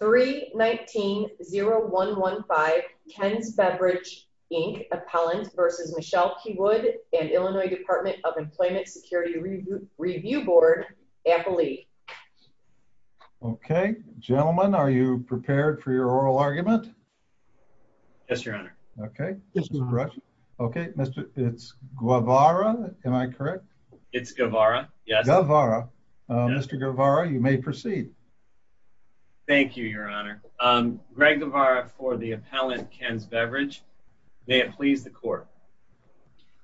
319-0115 Ken's Beverage, Inc. Appellant v. Michelle P. Wood and Illinois Department of Employment Security Review Board Appellee. Okay, gentlemen, are you prepared for your oral argument? Yes, your honor. Okay, this is correct. Okay, it's Guevara, am I correct? It's Guevara, yes. Guevara, Mr. Guevara, you may proceed. Thank you, your honor. Greg Guevara for the appellant, Ken's Beverage. May it please the court.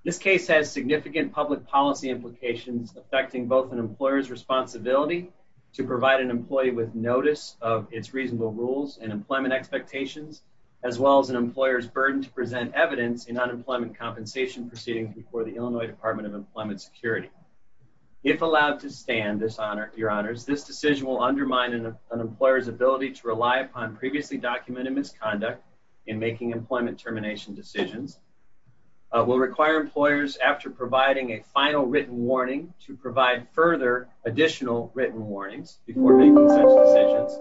This case has significant public policy implications affecting both an employer's responsibility to provide an employee with notice of its reasonable rules and employment expectations, as well as an employer's burden to present evidence in unemployment compensation proceedings before the Illinois Department of Security. If allowed to stand, your honors, this decision will undermine an employer's ability to rely upon previously documented misconduct in making employment termination decisions, will require employers after providing a final written warning to provide further additional written warnings before making such decisions,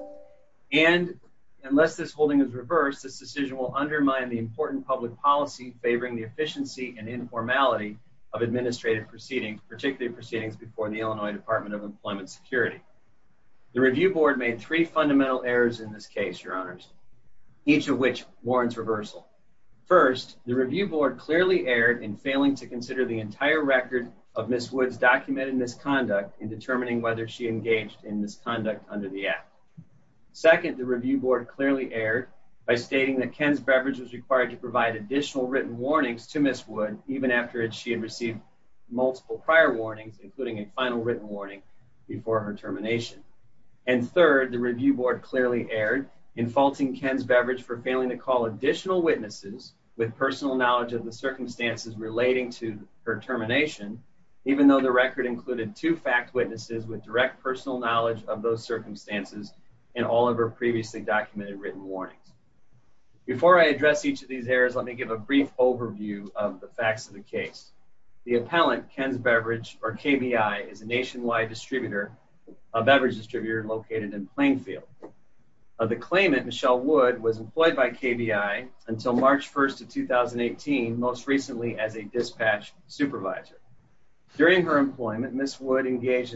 and unless this holding is reversed, this decision will undermine the important public policy favoring the efficiency and informality of particularly proceedings before the Illinois Department of Employment Security. The review board made three fundamental errors in this case, your honors, each of which warrants reversal. First, the review board clearly erred in failing to consider the entire record of Ms. Wood's documented misconduct in determining whether she engaged in misconduct under the app. Second, the review board clearly erred by stating that Ken's Beverage was required to provide additional written warnings to Ms. Wood even after she had received multiple prior warnings, including a final written warning before her termination. And third, the review board clearly erred in faulting Ken's Beverage for failing to call additional witnesses with personal knowledge of the circumstances relating to her termination, even though the record included two fact witnesses with direct personal knowledge of those circumstances in all of her previously documented written warnings. Before I address each of these errors, let me give a brief overview of the facts of the case. The appellant, Ken's Beverage, or KBI, is a nationwide distributor, a beverage distributor located in Plainfield. Of the claimant, Michelle Wood was employed by KBI until March 1st of 2018, most recently as a dispatch supervisor. During her term, Ms. Wood received a number of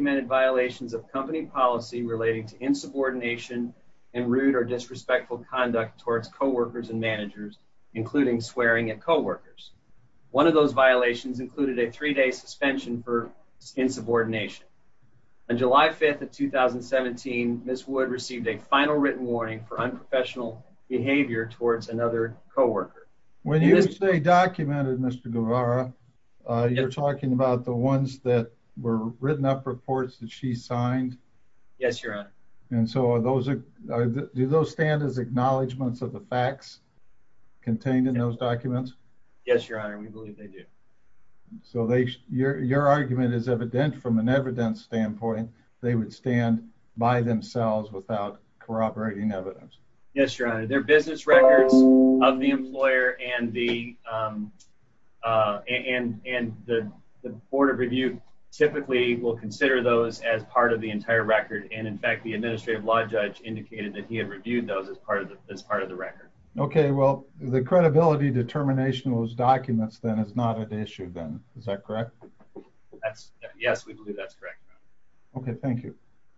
written warnings relating to insubordination and rude or disrespectful conduct towards co-workers and managers, including swearing at co-workers. One of those violations included a three-day suspension for insubordination. On July 5th of 2017, Ms. Wood received a final written warning for unprofessional behavior towards another co-worker. When you say documented, Mr. Guevara, you're talking about the ones that were written up reports that she signed? Yes, your honor. And so are those, do those stand as acknowledgements of the facts contained in those documents? Yes, your honor, we believe they do. So they, your argument is evident from an evidence standpoint, they would stand by themselves without corroborating evidence. Yes, your honor, their business records of the employer and the, um, uh, and, and the, the board of review typically will consider those as part of the entire record. And in fact, the administrative law judge indicated that he had reviewed those as part of the, as part of the record. Okay, well, the credibility determination of those documents then is not an issue then, is that correct? That's, yes, we believe that's correct. Okay, thank you.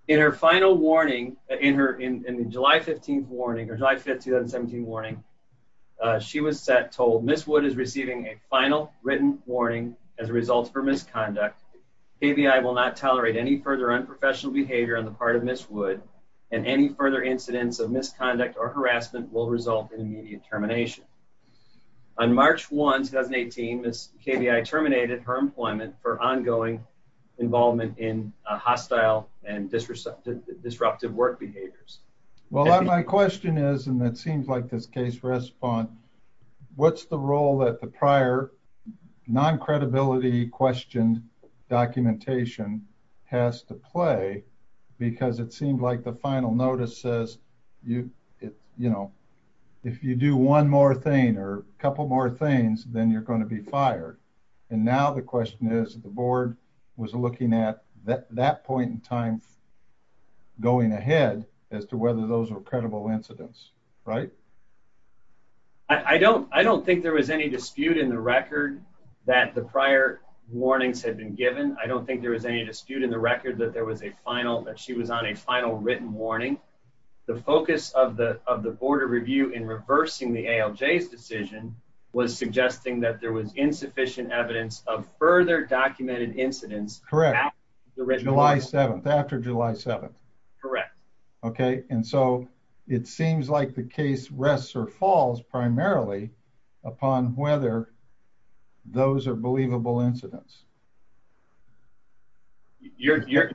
In her final warning, in her, in, in July 15th warning or July 5th, 2017 warning, uh, she was set, told Ms. Wood is receiving a final written warning as a result of her misconduct. KBI will not tolerate any further unprofessional behavior on the part of Ms. Wood and any further incidents of misconduct or harassment will result in immediate termination. On March 1st, 2018, Ms. KBI terminated her employment for ongoing involvement in a hostile and disruptive, disruptive work behaviors. Well, my question is, and it seems like this case respond, what's the role that the prior non-credibility questioned documentation has to play? Because it seems like the final notice says you, you know, if you do one more thing or a couple more things, then you're going to be fired. And now the question is, the board was looking at that, that point in time going ahead as to whether those were credible incidents, right? I don't, I don't think there was any dispute in the record that the prior warnings had been given. I don't think there was any dispute in the record that there was a final, that she was on a final written warning. The focus of the, of the further documented incidents. Correct. July 7th, after July 7th. Correct. Okay. And so it seems like the case rests or falls primarily upon whether those are believable incidents. You're, you're,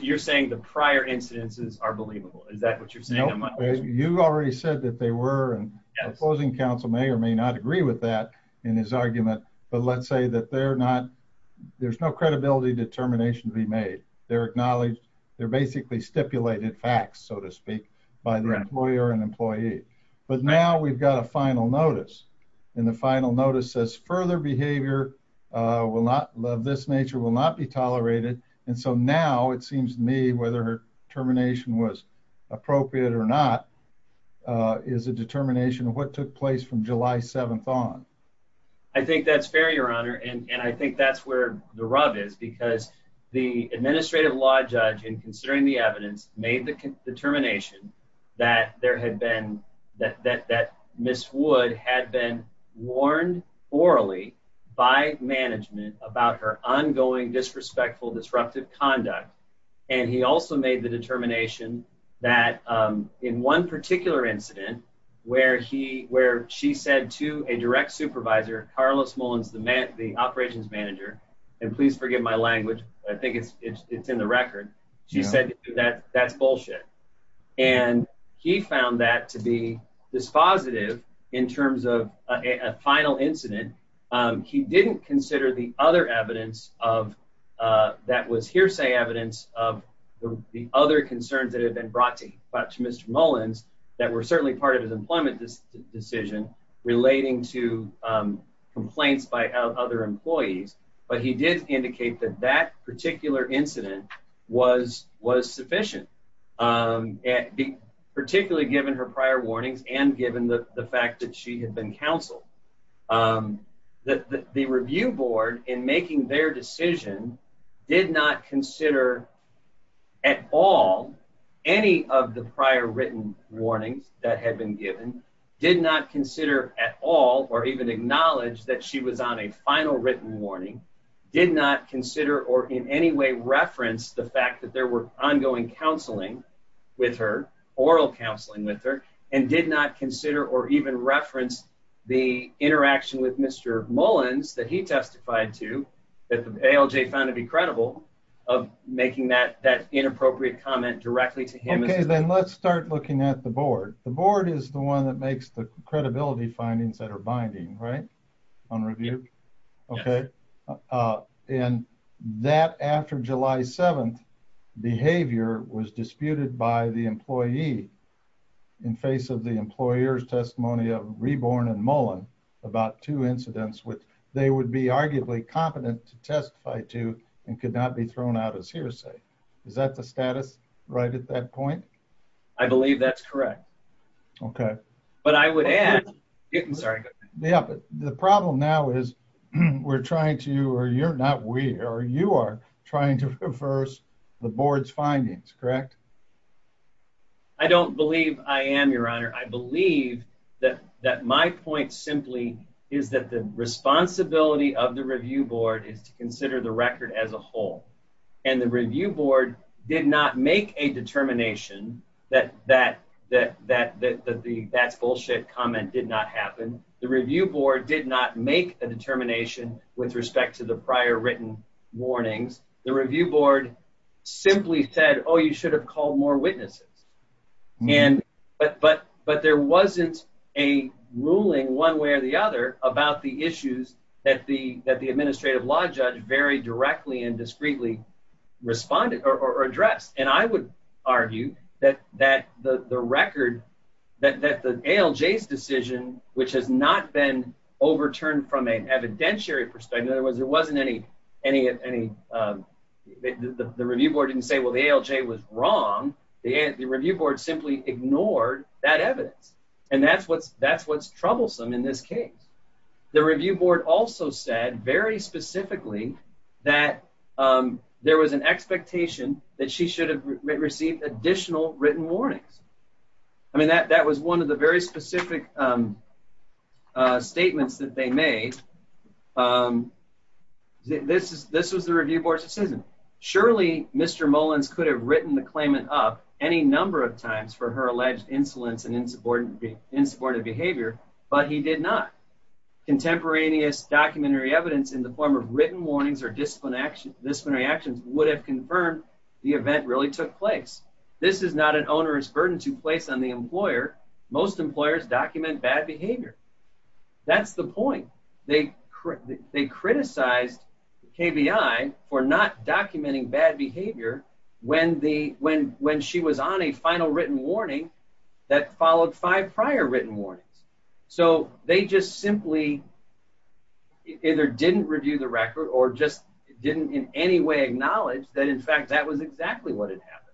you're saying the prior incidences are believable. Is that what you're saying? You already said that they were and opposing council may or may not agree with that in his say that they're not, there's no credibility determination to be made. They're acknowledged. They're basically stipulated facts, so to speak by the employer and employee. But now we've got a final notice and the final notice says further behavior will not love this nature will not be tolerated. And so now it seems to me whether her termination was appropriate or not, uh, is a determination of what took place from July 7th on. I think that's fair, your honor. And I think that's where the rub is because the administrative law judge in considering the evidence made the determination that there had been that, that, that Ms. Wood had been warned orally by management about her ongoing, disrespectful, disruptive conduct. And he also made the determination that, um, in one particular incident where he, where she said to a direct supervisor, Carlos Mullins, the man, the operations manager, and please forgive my language. I think it's, it's, it's in the record. She said that that's bullshit. And he found that to be this positive in terms of a final incident. Um, he didn't consider the other evidence of, uh, that was hearsay evidence of the other concerns that had been brought to Mr. Mullins that were certainly part of his employment decision relating to, um, complaints by other employees. But he did indicate that that particular incident was, was sufficient, um, particularly given her prior warnings and given the fact that she had been counseled, um, that the review board in making their decision did not consider at all any of the prior written warnings that had been given, did not consider at all, or even acknowledge that she was on a final written warning, did not consider or in any way reference the fact that there were ongoing counseling with her, oral counseling with her, and did not consider or even reference the interaction with Mr. Mullins that he testified to that the ALJ found to be credible of making that, that inappropriate comment directly to him. Okay, then let's start looking at the board. The board is the one that makes the credibility findings that are binding, right? On review. Okay. Uh, and that after July 7th behavior was disputed by the employee in face of the employer's testimony of Reborn and Mullin about two incidents which they would be arguably competent to testify to and could not be thrown out as hearsay. Is that the status right at that point? I believe that's correct. Okay. But I would add, I'm sorry. Yeah, but the problem now is we're trying to, or you're not we, or you are trying to reverse the board's findings, correct? I don't believe I am, your honor. I believe that, that my point simply is that the responsibility of the review board is to consider the record as a whole. And the review board did not make a determination that, that, that, that, that the, that's bullshit comment did not happen. The review board did not make a determination with respect to the prior written warnings. The review board simply said, oh, you should have called more witnesses. And, but, but, but there wasn't a ruling one way or the other about the issues that the, that the administrative law judge very directly and discreetly responded or addressed. And I would argue that, that the, the record that, that the ALJ's decision, which has not been overturned from an evidentiary perspective. In other words, there wasn't any, any, any, the review board didn't say, well, the ALJ was wrong. The review board simply ignored that evidence. And that's what's, that's what's troublesome in this case. The review board also said very specifically that there was an expectation that she should have received additional written warnings. I mean, that was one of the very specific statements that they made. This is, this was the review board's decision. Surely Mr. Mullins could have written the claimant up any number of times for her alleged insolence and insubordinate, insubordinate behavior, but he did not. Contemporaneous documentary evidence in the form of written warnings or discipline action, disciplinary actions would have confirmed the event really took place. This is not an onerous burden to place on the employer. Most employers document bad behavior. That's the point. They, they criticized KBI for not documenting bad behavior when the, when, when she was on a final written warning that followed five prior written warnings. So they just simply either didn't review the record or just didn't in any way acknowledge that in fact, that was exactly what had happened.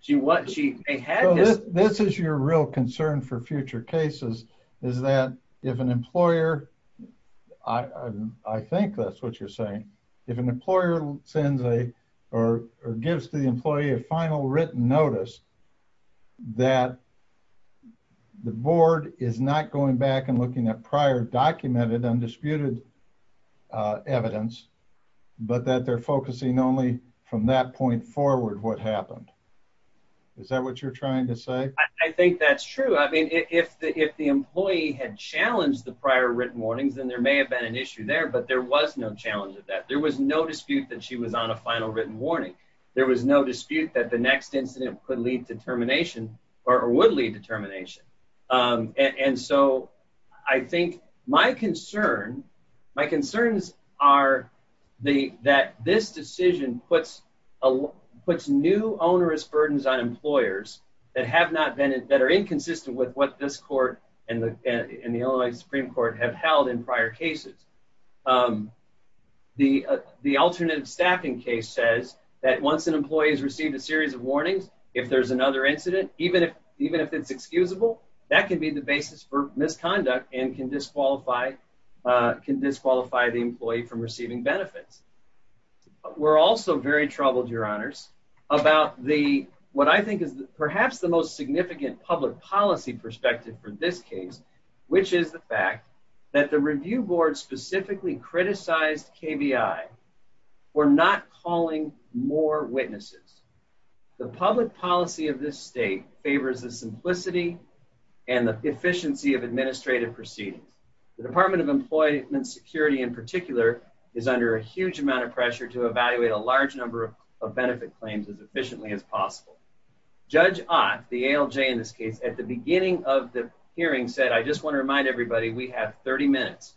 She, what she had, this is your real concern for future cases is that if an employer, I think that's what you're saying. If an employer sends a, or gives the employee a final written notice that the board is not going back and looking at prior documented undisputed evidence, but that they're focusing only from that point forward, what happened? Is that what you're trying to say? I think that's true. I mean, if the, if the employee had challenged the prior written warnings, then there may have been an issue there, but there was no challenge of that. There was no dispute that she was on a final written warning. There was no dispute that the next incident could lead to termination or would lead to termination. And so I think my concern, my concerns are the, that this decision puts a, puts new onerous burdens on employers that have not been, that are inconsistent with what this court and the, and the Illinois Supreme Court have held in prior cases. The, the alternative staffing case says that once an employee has received a series of warnings, if there's another incident, even if, even if it's excusable, that can be the basis for misconduct and can disqualify, can disqualify the employee from receiving benefits. We're also very troubled, your honors, about the, what I think is perhaps the most significant public policy perspective for this case, which is the fact that the review board specifically criticized KBI for not calling more witnesses. The public policy of this state favors the simplicity and the efficiency of administrative proceedings. The Department of Employment Security in particular is under a huge amount of pressure to evaluate a large number of benefit claims as efficiently as possible. Judge Ott, the ALJ in this case, at the beginning of the hearing said, I just want to remind everybody we have 30 minutes.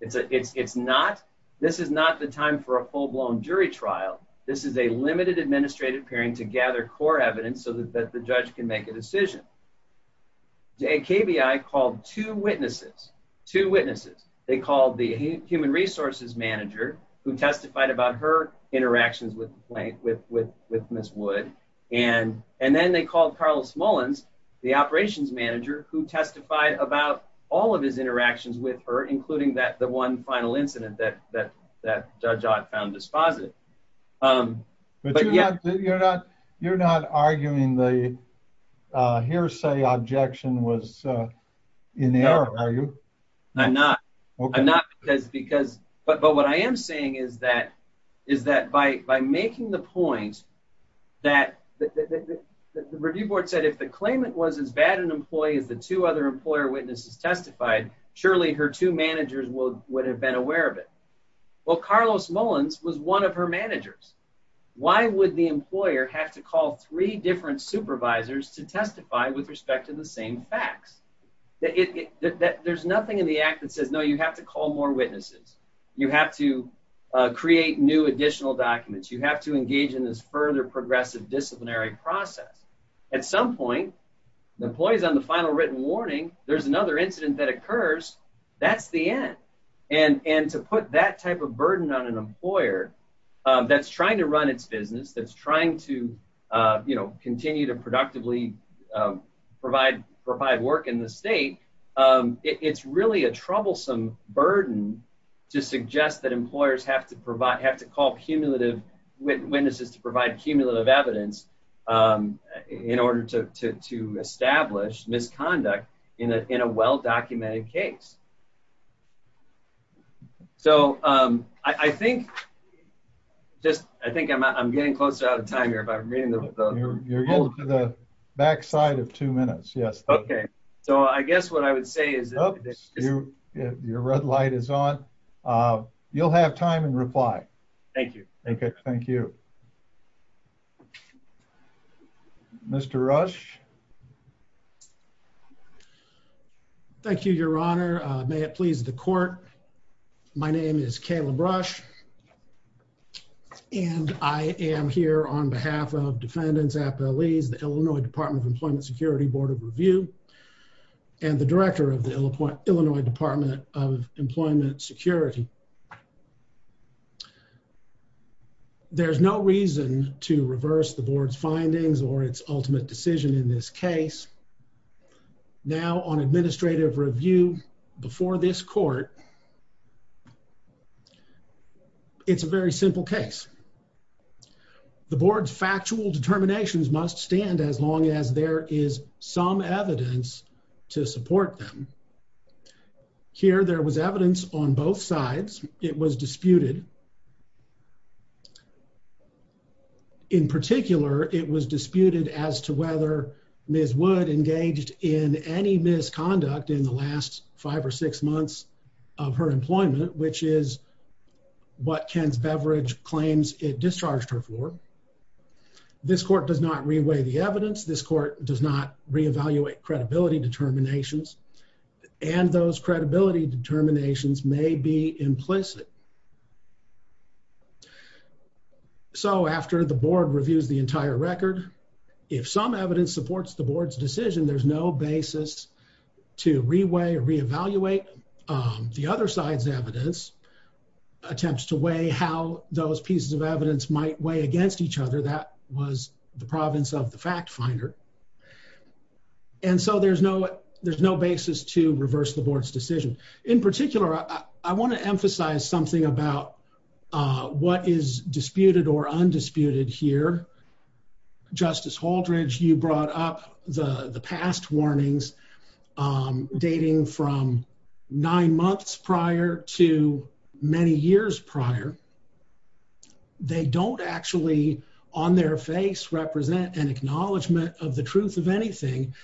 It's a, it's, it's not, this is not the time for a full-blown jury trial. This is a limited administrative hearing to gather core evidence so that the judge can make a decision. KBI called two witnesses, two witnesses. They called the human resources manager who testified about her interactions with Ms. Wood. And, and then they called Carlos Mullins, the operations manager who testified about all of his interactions with her, including that, one final incident that, that, that Judge Ott found dispositive. But you're not, you're not, you're not arguing the hearsay objection was in error, are you? I'm not. I'm not because, because, but, but what I am saying is that, is that by, by making the point that the review board said, if the claimant was as bad an employee as the two other employer witnesses testified, surely her two managers would have been aware of it. Well, Carlos Mullins was one of her managers. Why would the employer have to call three different supervisors to testify with respect to the same facts? That it, that there's nothing in the act that says, no, you have to call more witnesses. You have to create new additional documents. You have to engage in this further progressive disciplinary process. At some point, the employees on the final written warning, there's another incident that occurs, that's the end. And, and to put that type of burden on an employer that's trying to run its business, that's trying to, you know, continue to productively provide, provide work in the state. It's really a troublesome burden to suggest that employers have to provide, have to call cumulative witnesses to provide cumulative evidence in order to, to, to establish misconduct in a, in a well-documented case. So I think just, I think I'm, I'm getting closer out of time here, but I'm reading the back side of two minutes. Yes. Okay. So I guess what I would say is, your red light is on. You'll have time and reply. Thank you. Okay. Thank you. Okay. Mr. Rush. Thank you, your honor. May it please the court. My name is Caleb Rush and I am here on behalf of defendants, appellees, the Illinois department of employment security board of review and the director of the Illinois department of employment security. There's no reason to reverse the board's findings or its ultimate decision in this case. Now on administrative review before this court, it's a very simple case. The board's factual determinations must stand as long as there is some evidence to support them. Here, there was evidence on both sides that the board's was disputed. In particular, it was disputed as to whether Ms. Wood engaged in any misconduct in the last five or six months of her employment, which is what Ken's beverage claims it discharged her for. This court does not reweigh the evidence. This court does not reevaluate credibility determinations and those credibility determinations may be implicit. So after the board reviews the entire record, if some evidence supports the board's decision, there's no basis to reweigh or reevaluate the other side's evidence attempts to weigh how those pieces of evidence might weigh against each other. That was the province of the fact finder. And so there's no there's no basis to reverse the board's decision. In particular, I want to emphasize something about what is disputed or undisputed here. Justice Holdridge, you brought up the past warnings dating from nine months prior to many years prior. They don't actually on their face represent an acknowledgment of the truth of anything.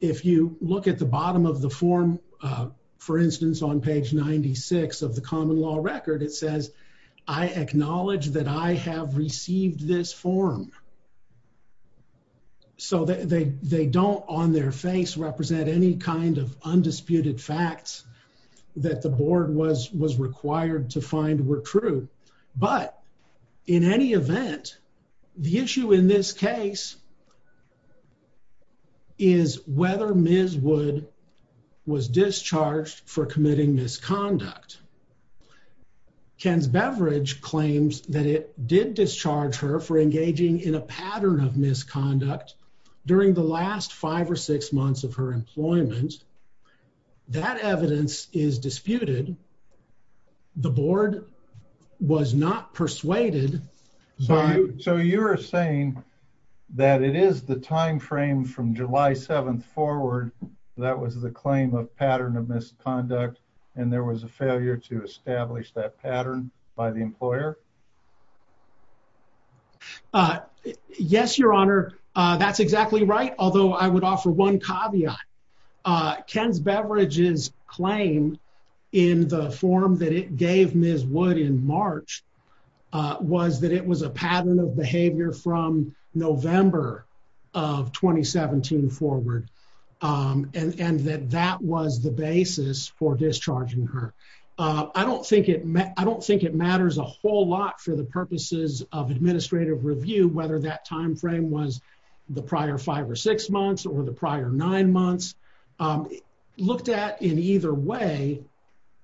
If you look at the bottom of the form, for instance, on page 96 of the common law record, it says I acknowledge that I have received this form. So they don't on their face represent any kind of undisputed facts that the board was was required to find were true. But in any event, the issue in this case is whether Ms. Wood was discharged for committing misconduct. Ken's Beverage claims that it did discharge her for engaging in a pattern of misconduct during the last five or six months of her employment. That evidence is disputed. The board was not persuaded. So you're saying that it is the time frame from July 7th forward that was the claim of pattern of misconduct, and there was a failure to establish that pattern by the employer? Yes, your honor. That's exactly right. Although I would offer one caveat. Ken's Beverages claim in the form that it gave Ms. Wood in March was that it was a pattern of behavior from November of 2017 forward. And that that was the basis for discharging her. I don't think it matters a whole lot for the purposes of administrative review, whether that time frame was the prior five or six months or the prior nine months. Looked at in either way,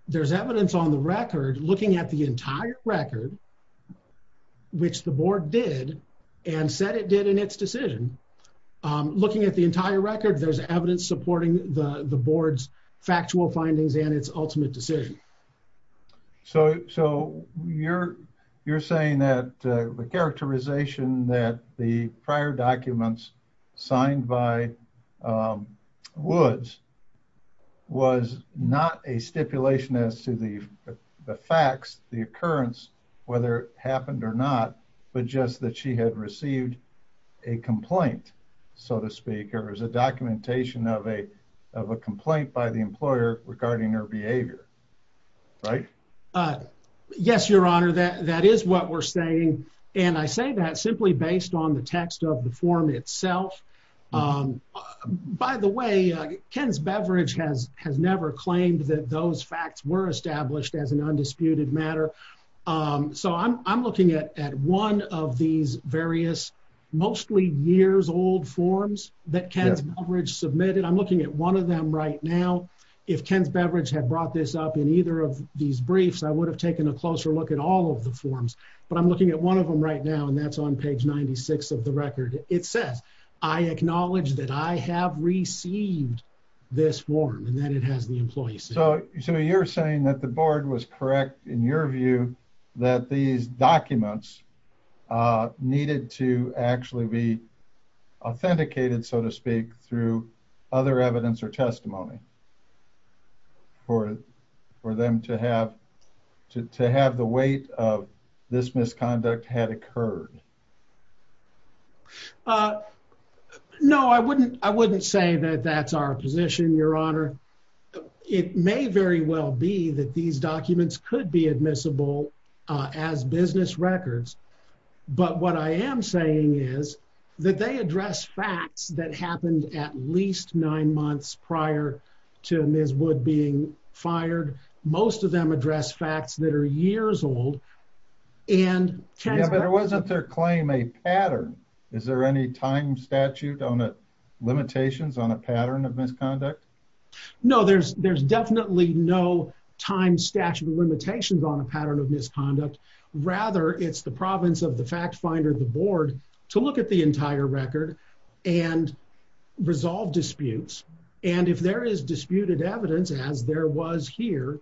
there's evidence on the record looking at the entire record, which the board did and said it did in its decision. Looking at the entire record, there's evidence supporting the board's factual findings and its ultimate decision. So you're saying that the characterization that the prior documents signed by Woods was not a stipulation as to the facts, the occurrence, whether it happened or not, but just that she had received a complaint, so to speak, or is a documentation of a complaint by the employer regarding her behavior, right? Yes, your honor. That is what we're saying. And I say that simply based on the text of the form itself. By the way, Ken's Beverages has these various mostly years old forms that Ken's Beverages submitted. I'm looking at one of them right now. If Ken's Beverages had brought this up in either of these briefs, I would have taken a closer look at all of the forms. But I'm looking at one of them right now, and that's on page 96 of the record. It says, I acknowledge that I have received this form and that it has the employee So you're saying that the board was correct in your view that these documents needed to actually be authenticated, so to speak, through other evidence or testimony for them to have the weight of this misconduct had occurred? No, I wouldn't say that that's our position, your honor. It may very well be that these documents could be admissible as business records. But what I am saying is that they address facts that happened at least nine months prior to Ms. Wood being fired. Most of them address facts that are pattern. Is there any time statute on the limitations on a pattern of misconduct? No, there's definitely no time statute limitations on a pattern of misconduct. Rather, it's the province of the fact finder, the board, to look at the entire record and resolve disputes. And if there is disputed evidence, as there was here,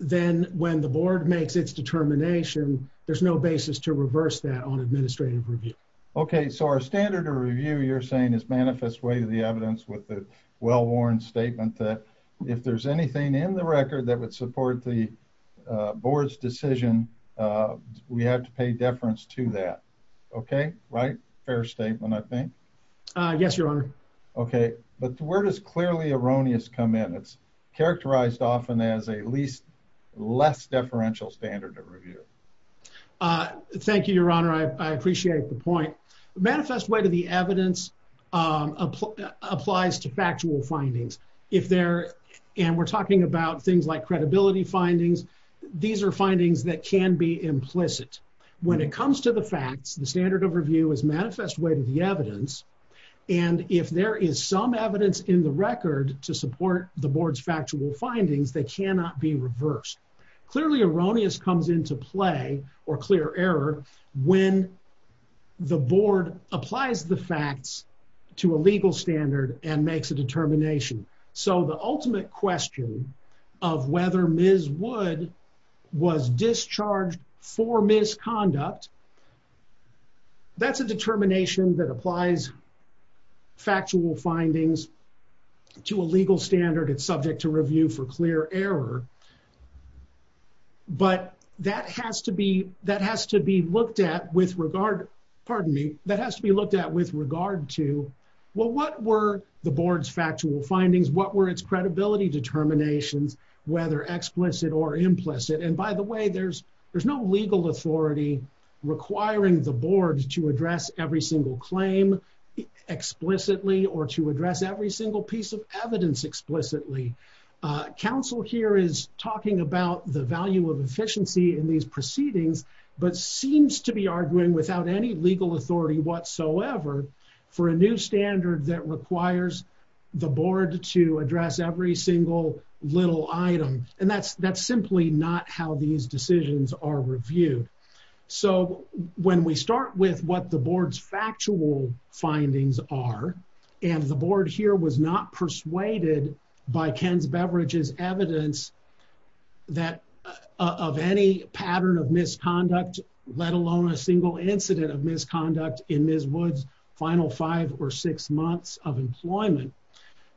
then when the board makes its determination, there's no basis to reverse that on administrative review. Okay, so our standard of review, you're saying is manifest way to the evidence with the well-worn statement that if there's anything in the record that would support the board's decision, we have to pay deference to that. Okay, right. Fair statement, I think. Yes, your honor. Okay, but where does clearly erroneous come in? It's characterized often as a least less deferential standard of review. Thank you, your honor. I appreciate the point. Manifest way to the evidence applies to factual findings. And we're talking about things like credibility findings. These are findings that can be implicit. When it comes to the facts, the standard of review is manifest way to the evidence. And if there is some evidence in the record to support the board's factual findings, they cannot be reversed. Clearly erroneous comes into play or clear error when the board applies the facts to a legal standard and makes a determination. So the ultimate question of whether Ms. Wood was discharged for misconduct, that's a determination that applies factual findings to a legal standard. It's subject to review for clear error. But that has to be looked at with regard, pardon me, that has to be looked at with regard to, well, what were the board's factual findings? What were its credibility determinations, whether explicit or implicit? And by the way, there's no legal authority requiring the board to address every single claim explicitly or to address every single piece of evidence explicitly. Council here is talking about the value of efficiency in these proceedings, but seems to be arguing without any legal authority whatsoever for a new standard that requires the board to address every single little item. And that's simply not how these decisions are reviewed. So when we start with what the board's factual findings are, and the board here was not persuaded by Ken's Beveridge's evidence that of any pattern of misconduct, let alone a single incident of misconduct in Ms. Wood's final five or six months of employment,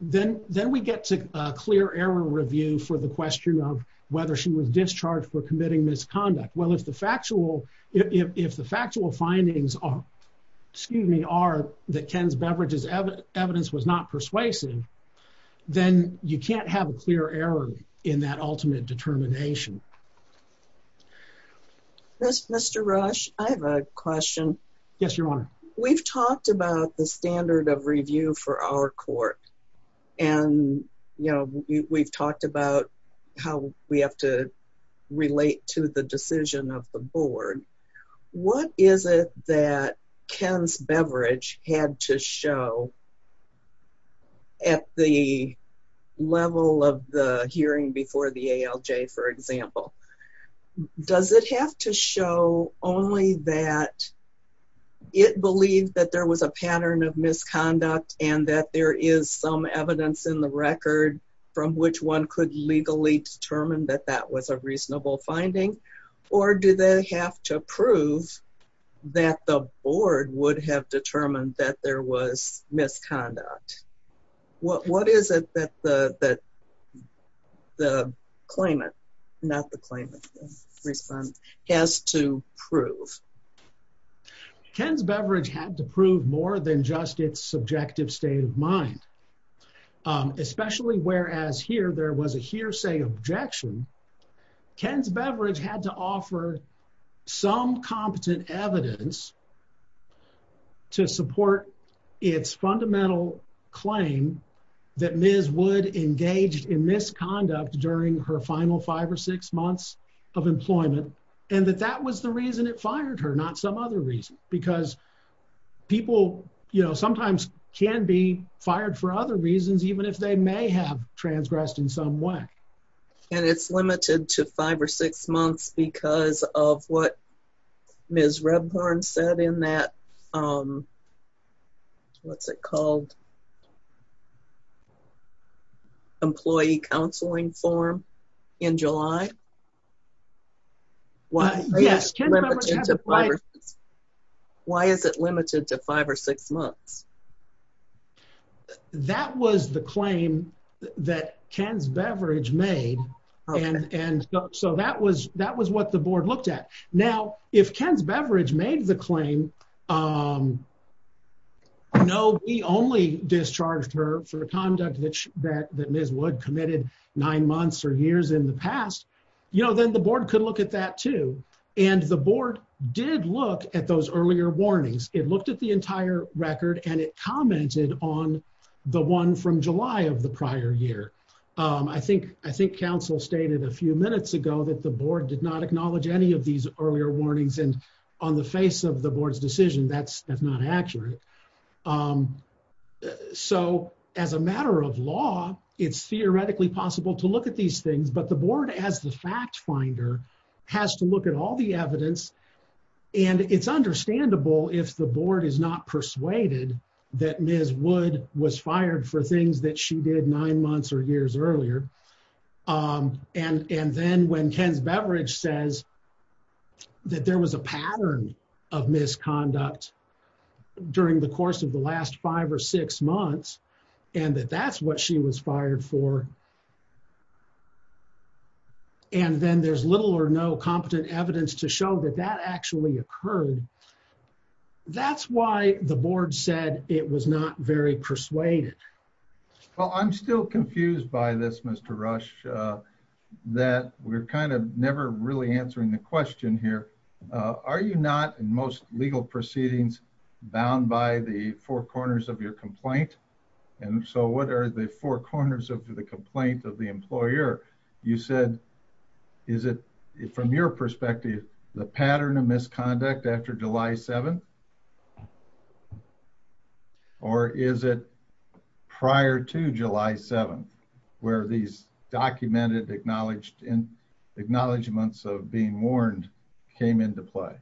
then we get to a clear error review for the question of whether she was discharged for committing misconduct. Well, if the factual findings are, excuse me, are that Ken's Beveridge's evidence was not persuasive, then you can't have a clear error in that ultimate determination. Mr. Rush, I have a question. Yes, Your Honor. We've talked about the standard of review for our court. And, you know, we've talked about how we have to relate to the decision of the board. What is it that Ken's Beveridge had to show at the level of the hearing before the ALJ, for example? Does it have to show only that it believed that there was a pattern of misconduct and that there is some evidence in the record from which one could legally determine that that was a reasonable finding, or do they have to prove that the board would have determined that there was misconduct? What is it that the claimant, not the claimant, has to prove? Ken's Beveridge had to prove more than just its subjective state of mind, especially whereas here there was a hearsay objection. Ken's Beveridge had to offer some competent evidence to support its fundamental claim that Ms. Wood engaged in misconduct during her final five or six months of employment, and that that was the reason it fired her, because people, you know, sometimes can be fired for other reasons even if they may have transgressed in some way. And it's limited to five or six months because of what Ms. Rebhorn said in that, what's it called, employee counseling form in July? Why is it limited to five or six months? That was the claim that Ken's Beveridge made, and so that was what the board looked at. Now, if Ken's Beveridge made the claim, no, we only discharged her for conduct that Ms. Wood committed nine months or years in the past, you know, then the board could look at that too. And the board did look at those earlier warnings. It looked at the entire record and it commented on the one from July of the prior year. I think counsel stated a few minutes ago that the board did not acknowledge any of these earlier warnings, and on the face of the board's decision, that's not accurate. So, as a matter of law, it's theoretically possible to look at these things, but the board as the fact finder has to look at all the evidence, and it's understandable if the board is not persuaded that Ms. Wood was fired for things that she did nine months or years earlier. And then when Ken's Beveridge says that there was a pattern of misconduct during the course of the last five or six months, and that that's what she was fired for, and then there's little or no competent evidence to show that that actually occurred, that's why the board said it was not very persuaded. Well, I'm still confused by this, Mr. Rush, that we're kind of never really answering the question here. Are you not, in most legal proceedings, bound by the four corners of your complaint? And so what are the four corners of the complaint of the employer? You said, is it from your misconduct after July 7th? Or is it prior to July 7th, where these documented acknowledgements of being warned came into play?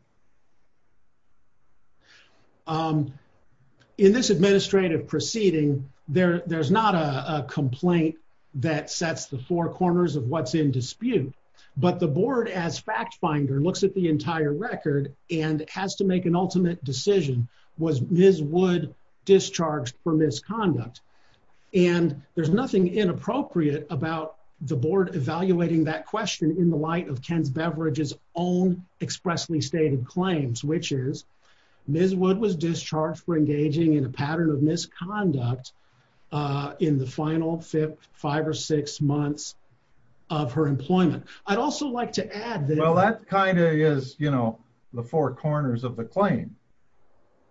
In this administrative proceeding, there's not a complaint that sets the four corners of what's in dispute, but the board as fact finder looks at the entire record and has to make an ultimate decision. Was Ms. Wood discharged for misconduct? And there's nothing inappropriate about the board evaluating that question in the light of Ken's Beveridge's own expressly stated claims, which is Ms. Wood was discharged for engaging in a pattern of misconduct in the final five or six months of her employment. I'd also like to add that... Well, that kind of is, you know, the four corners of the claim.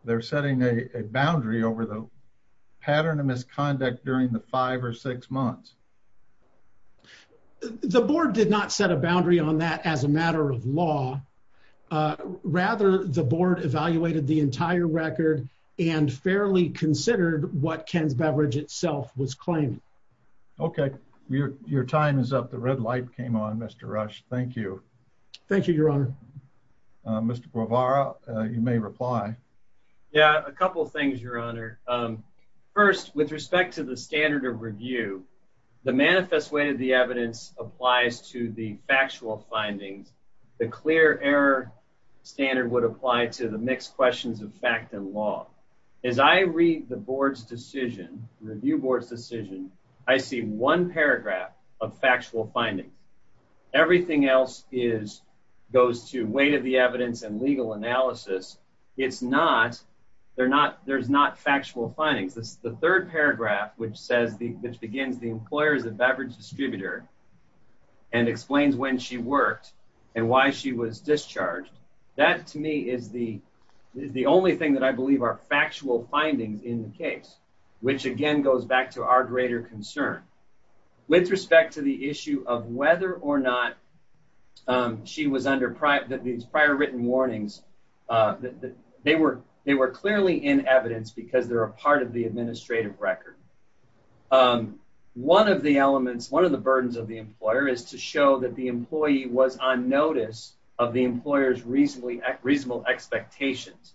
They're setting a boundary over the pattern of misconduct during the five or six months. The board did not set a boundary on that as a matter of law. Rather, the board evaluated the entire record and fairly considered what Ken's Beveridge itself was claiming. Okay, your time is up. The red light came on, Mr. Rush. Thank you. Thank you, Your Honor. Mr. Guevara, you may reply. Yeah, a couple of things, Your Honor. First, with respect to the standard of review, the manifest way to the evidence applies to the factual findings. The clear error standard would apply to the mixed questions of fact and law. As I read the board's decision, review board's decision, I see one paragraph of factual findings. Everything else goes to weight of the evidence and legal analysis. There's not factual findings. The third paragraph, which begins, the employer is a Beveridge distributor and explains when she worked and why she was discharged. That, to me, is the only thing that I believe are factual findings in the case, which again goes back to our greater concern. With respect to the issue of whether or not she was under these prior written warnings, they were clearly in evidence because they're a part of the administrative record. One of the burdens of the employer is to show that the employee was on notice of the employer's reasonable expectations.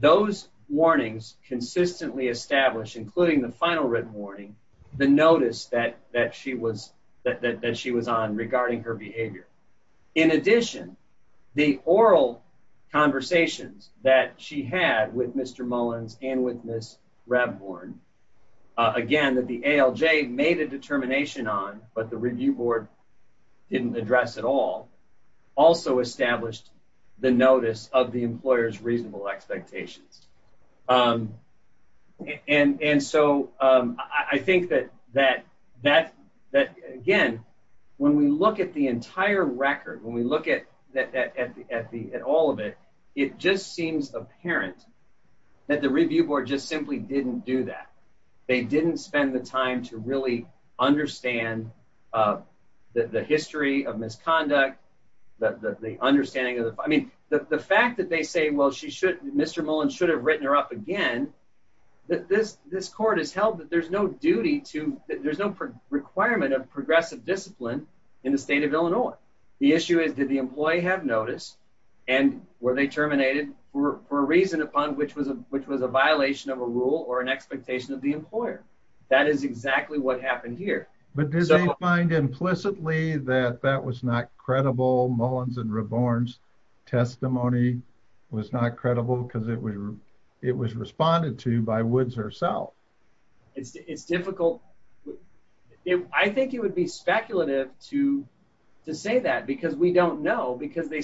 Those warnings consistently establish, including the final written warning, the notice that she was on regarding her behavior. In addition, the oral conversations that she had with Mr. Mullins and with Ms. Ravborn, again, that the ALJ made a determination on but the review board didn't address at all, also established the notice of the employer's reasonable expectations. I think that, again, when we look at the entire record, when we look at all of it, it just seems apparent that the review board just simply didn't do that. They didn't spend the time to really understand the history of misconduct. The fact that they say, well, Mr. Mullins should have written her up again, that this court has held that there's no requirement of progressive discipline in the state of Illinois. The issue is, did the employee have notice and were they terminated for a reason upon which was a violation of a rule or an expectation of the employer? That is exactly what happened here. But do they find implicitly that that was not credible, Mullins and Ravborn's testimony was not credible because it was responded to by Woods herself? It's difficult. I think it would be speculative to say that because we don't know because they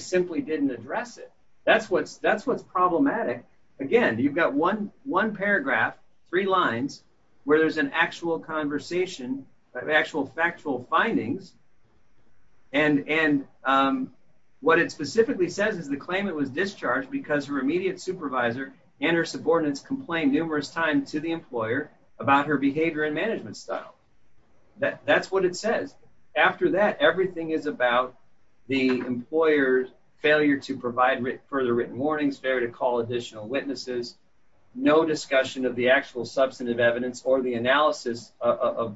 one paragraph, three lines, where there's an actual conversation, actual factual findings, and what it specifically says is the claimant was discharged because her immediate supervisor and her subordinates complained numerous times to the employer about her behavior and management style. That's what it says. After that, everything is about the employer's failure to provide further written warnings, failure to call additional witnesses, no discussion of the actual substantive evidence or the analysis of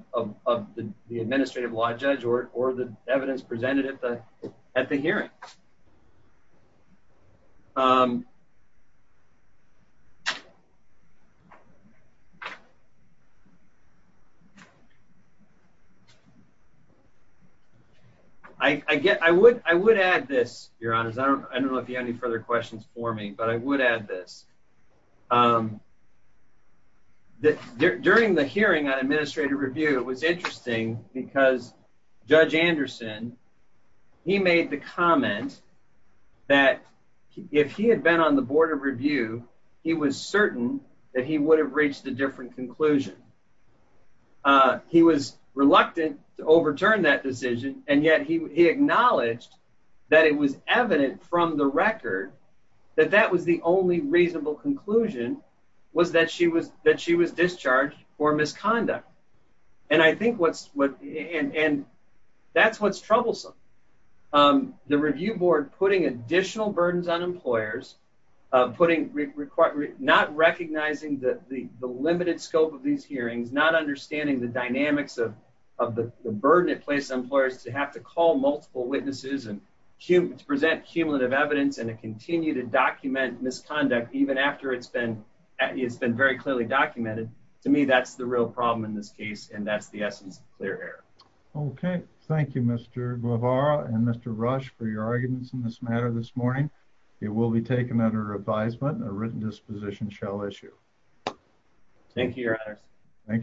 the administrative law judge or the evidence but I would add this. During the hearing on administrative review, it was interesting because Judge Anderson, he made the comment that if he had been on the board of review, he was certain that he would have reached a different conclusion. He was reluctant to overturn that decision and yet he acknowledged that it was evident from the record that that was the only reasonable conclusion was that she was discharged for misconduct and I think that's what's troublesome. The review board putting additional burdens on employers, not recognizing the limited scope of these hearings, not understanding the dynamics of the burden it placed on employers to have to call multiple witnesses and to present cumulative evidence and to continue to document misconduct even after it's been very clearly documented. To me, that's the real problem in this case and that's the essence of clear error. Okay, thank you Mr. Guevara and Mr. Rush for your arguments in this matter this morning. It will be taken under advisement. A written disposition shall issue. Thank you, your honors.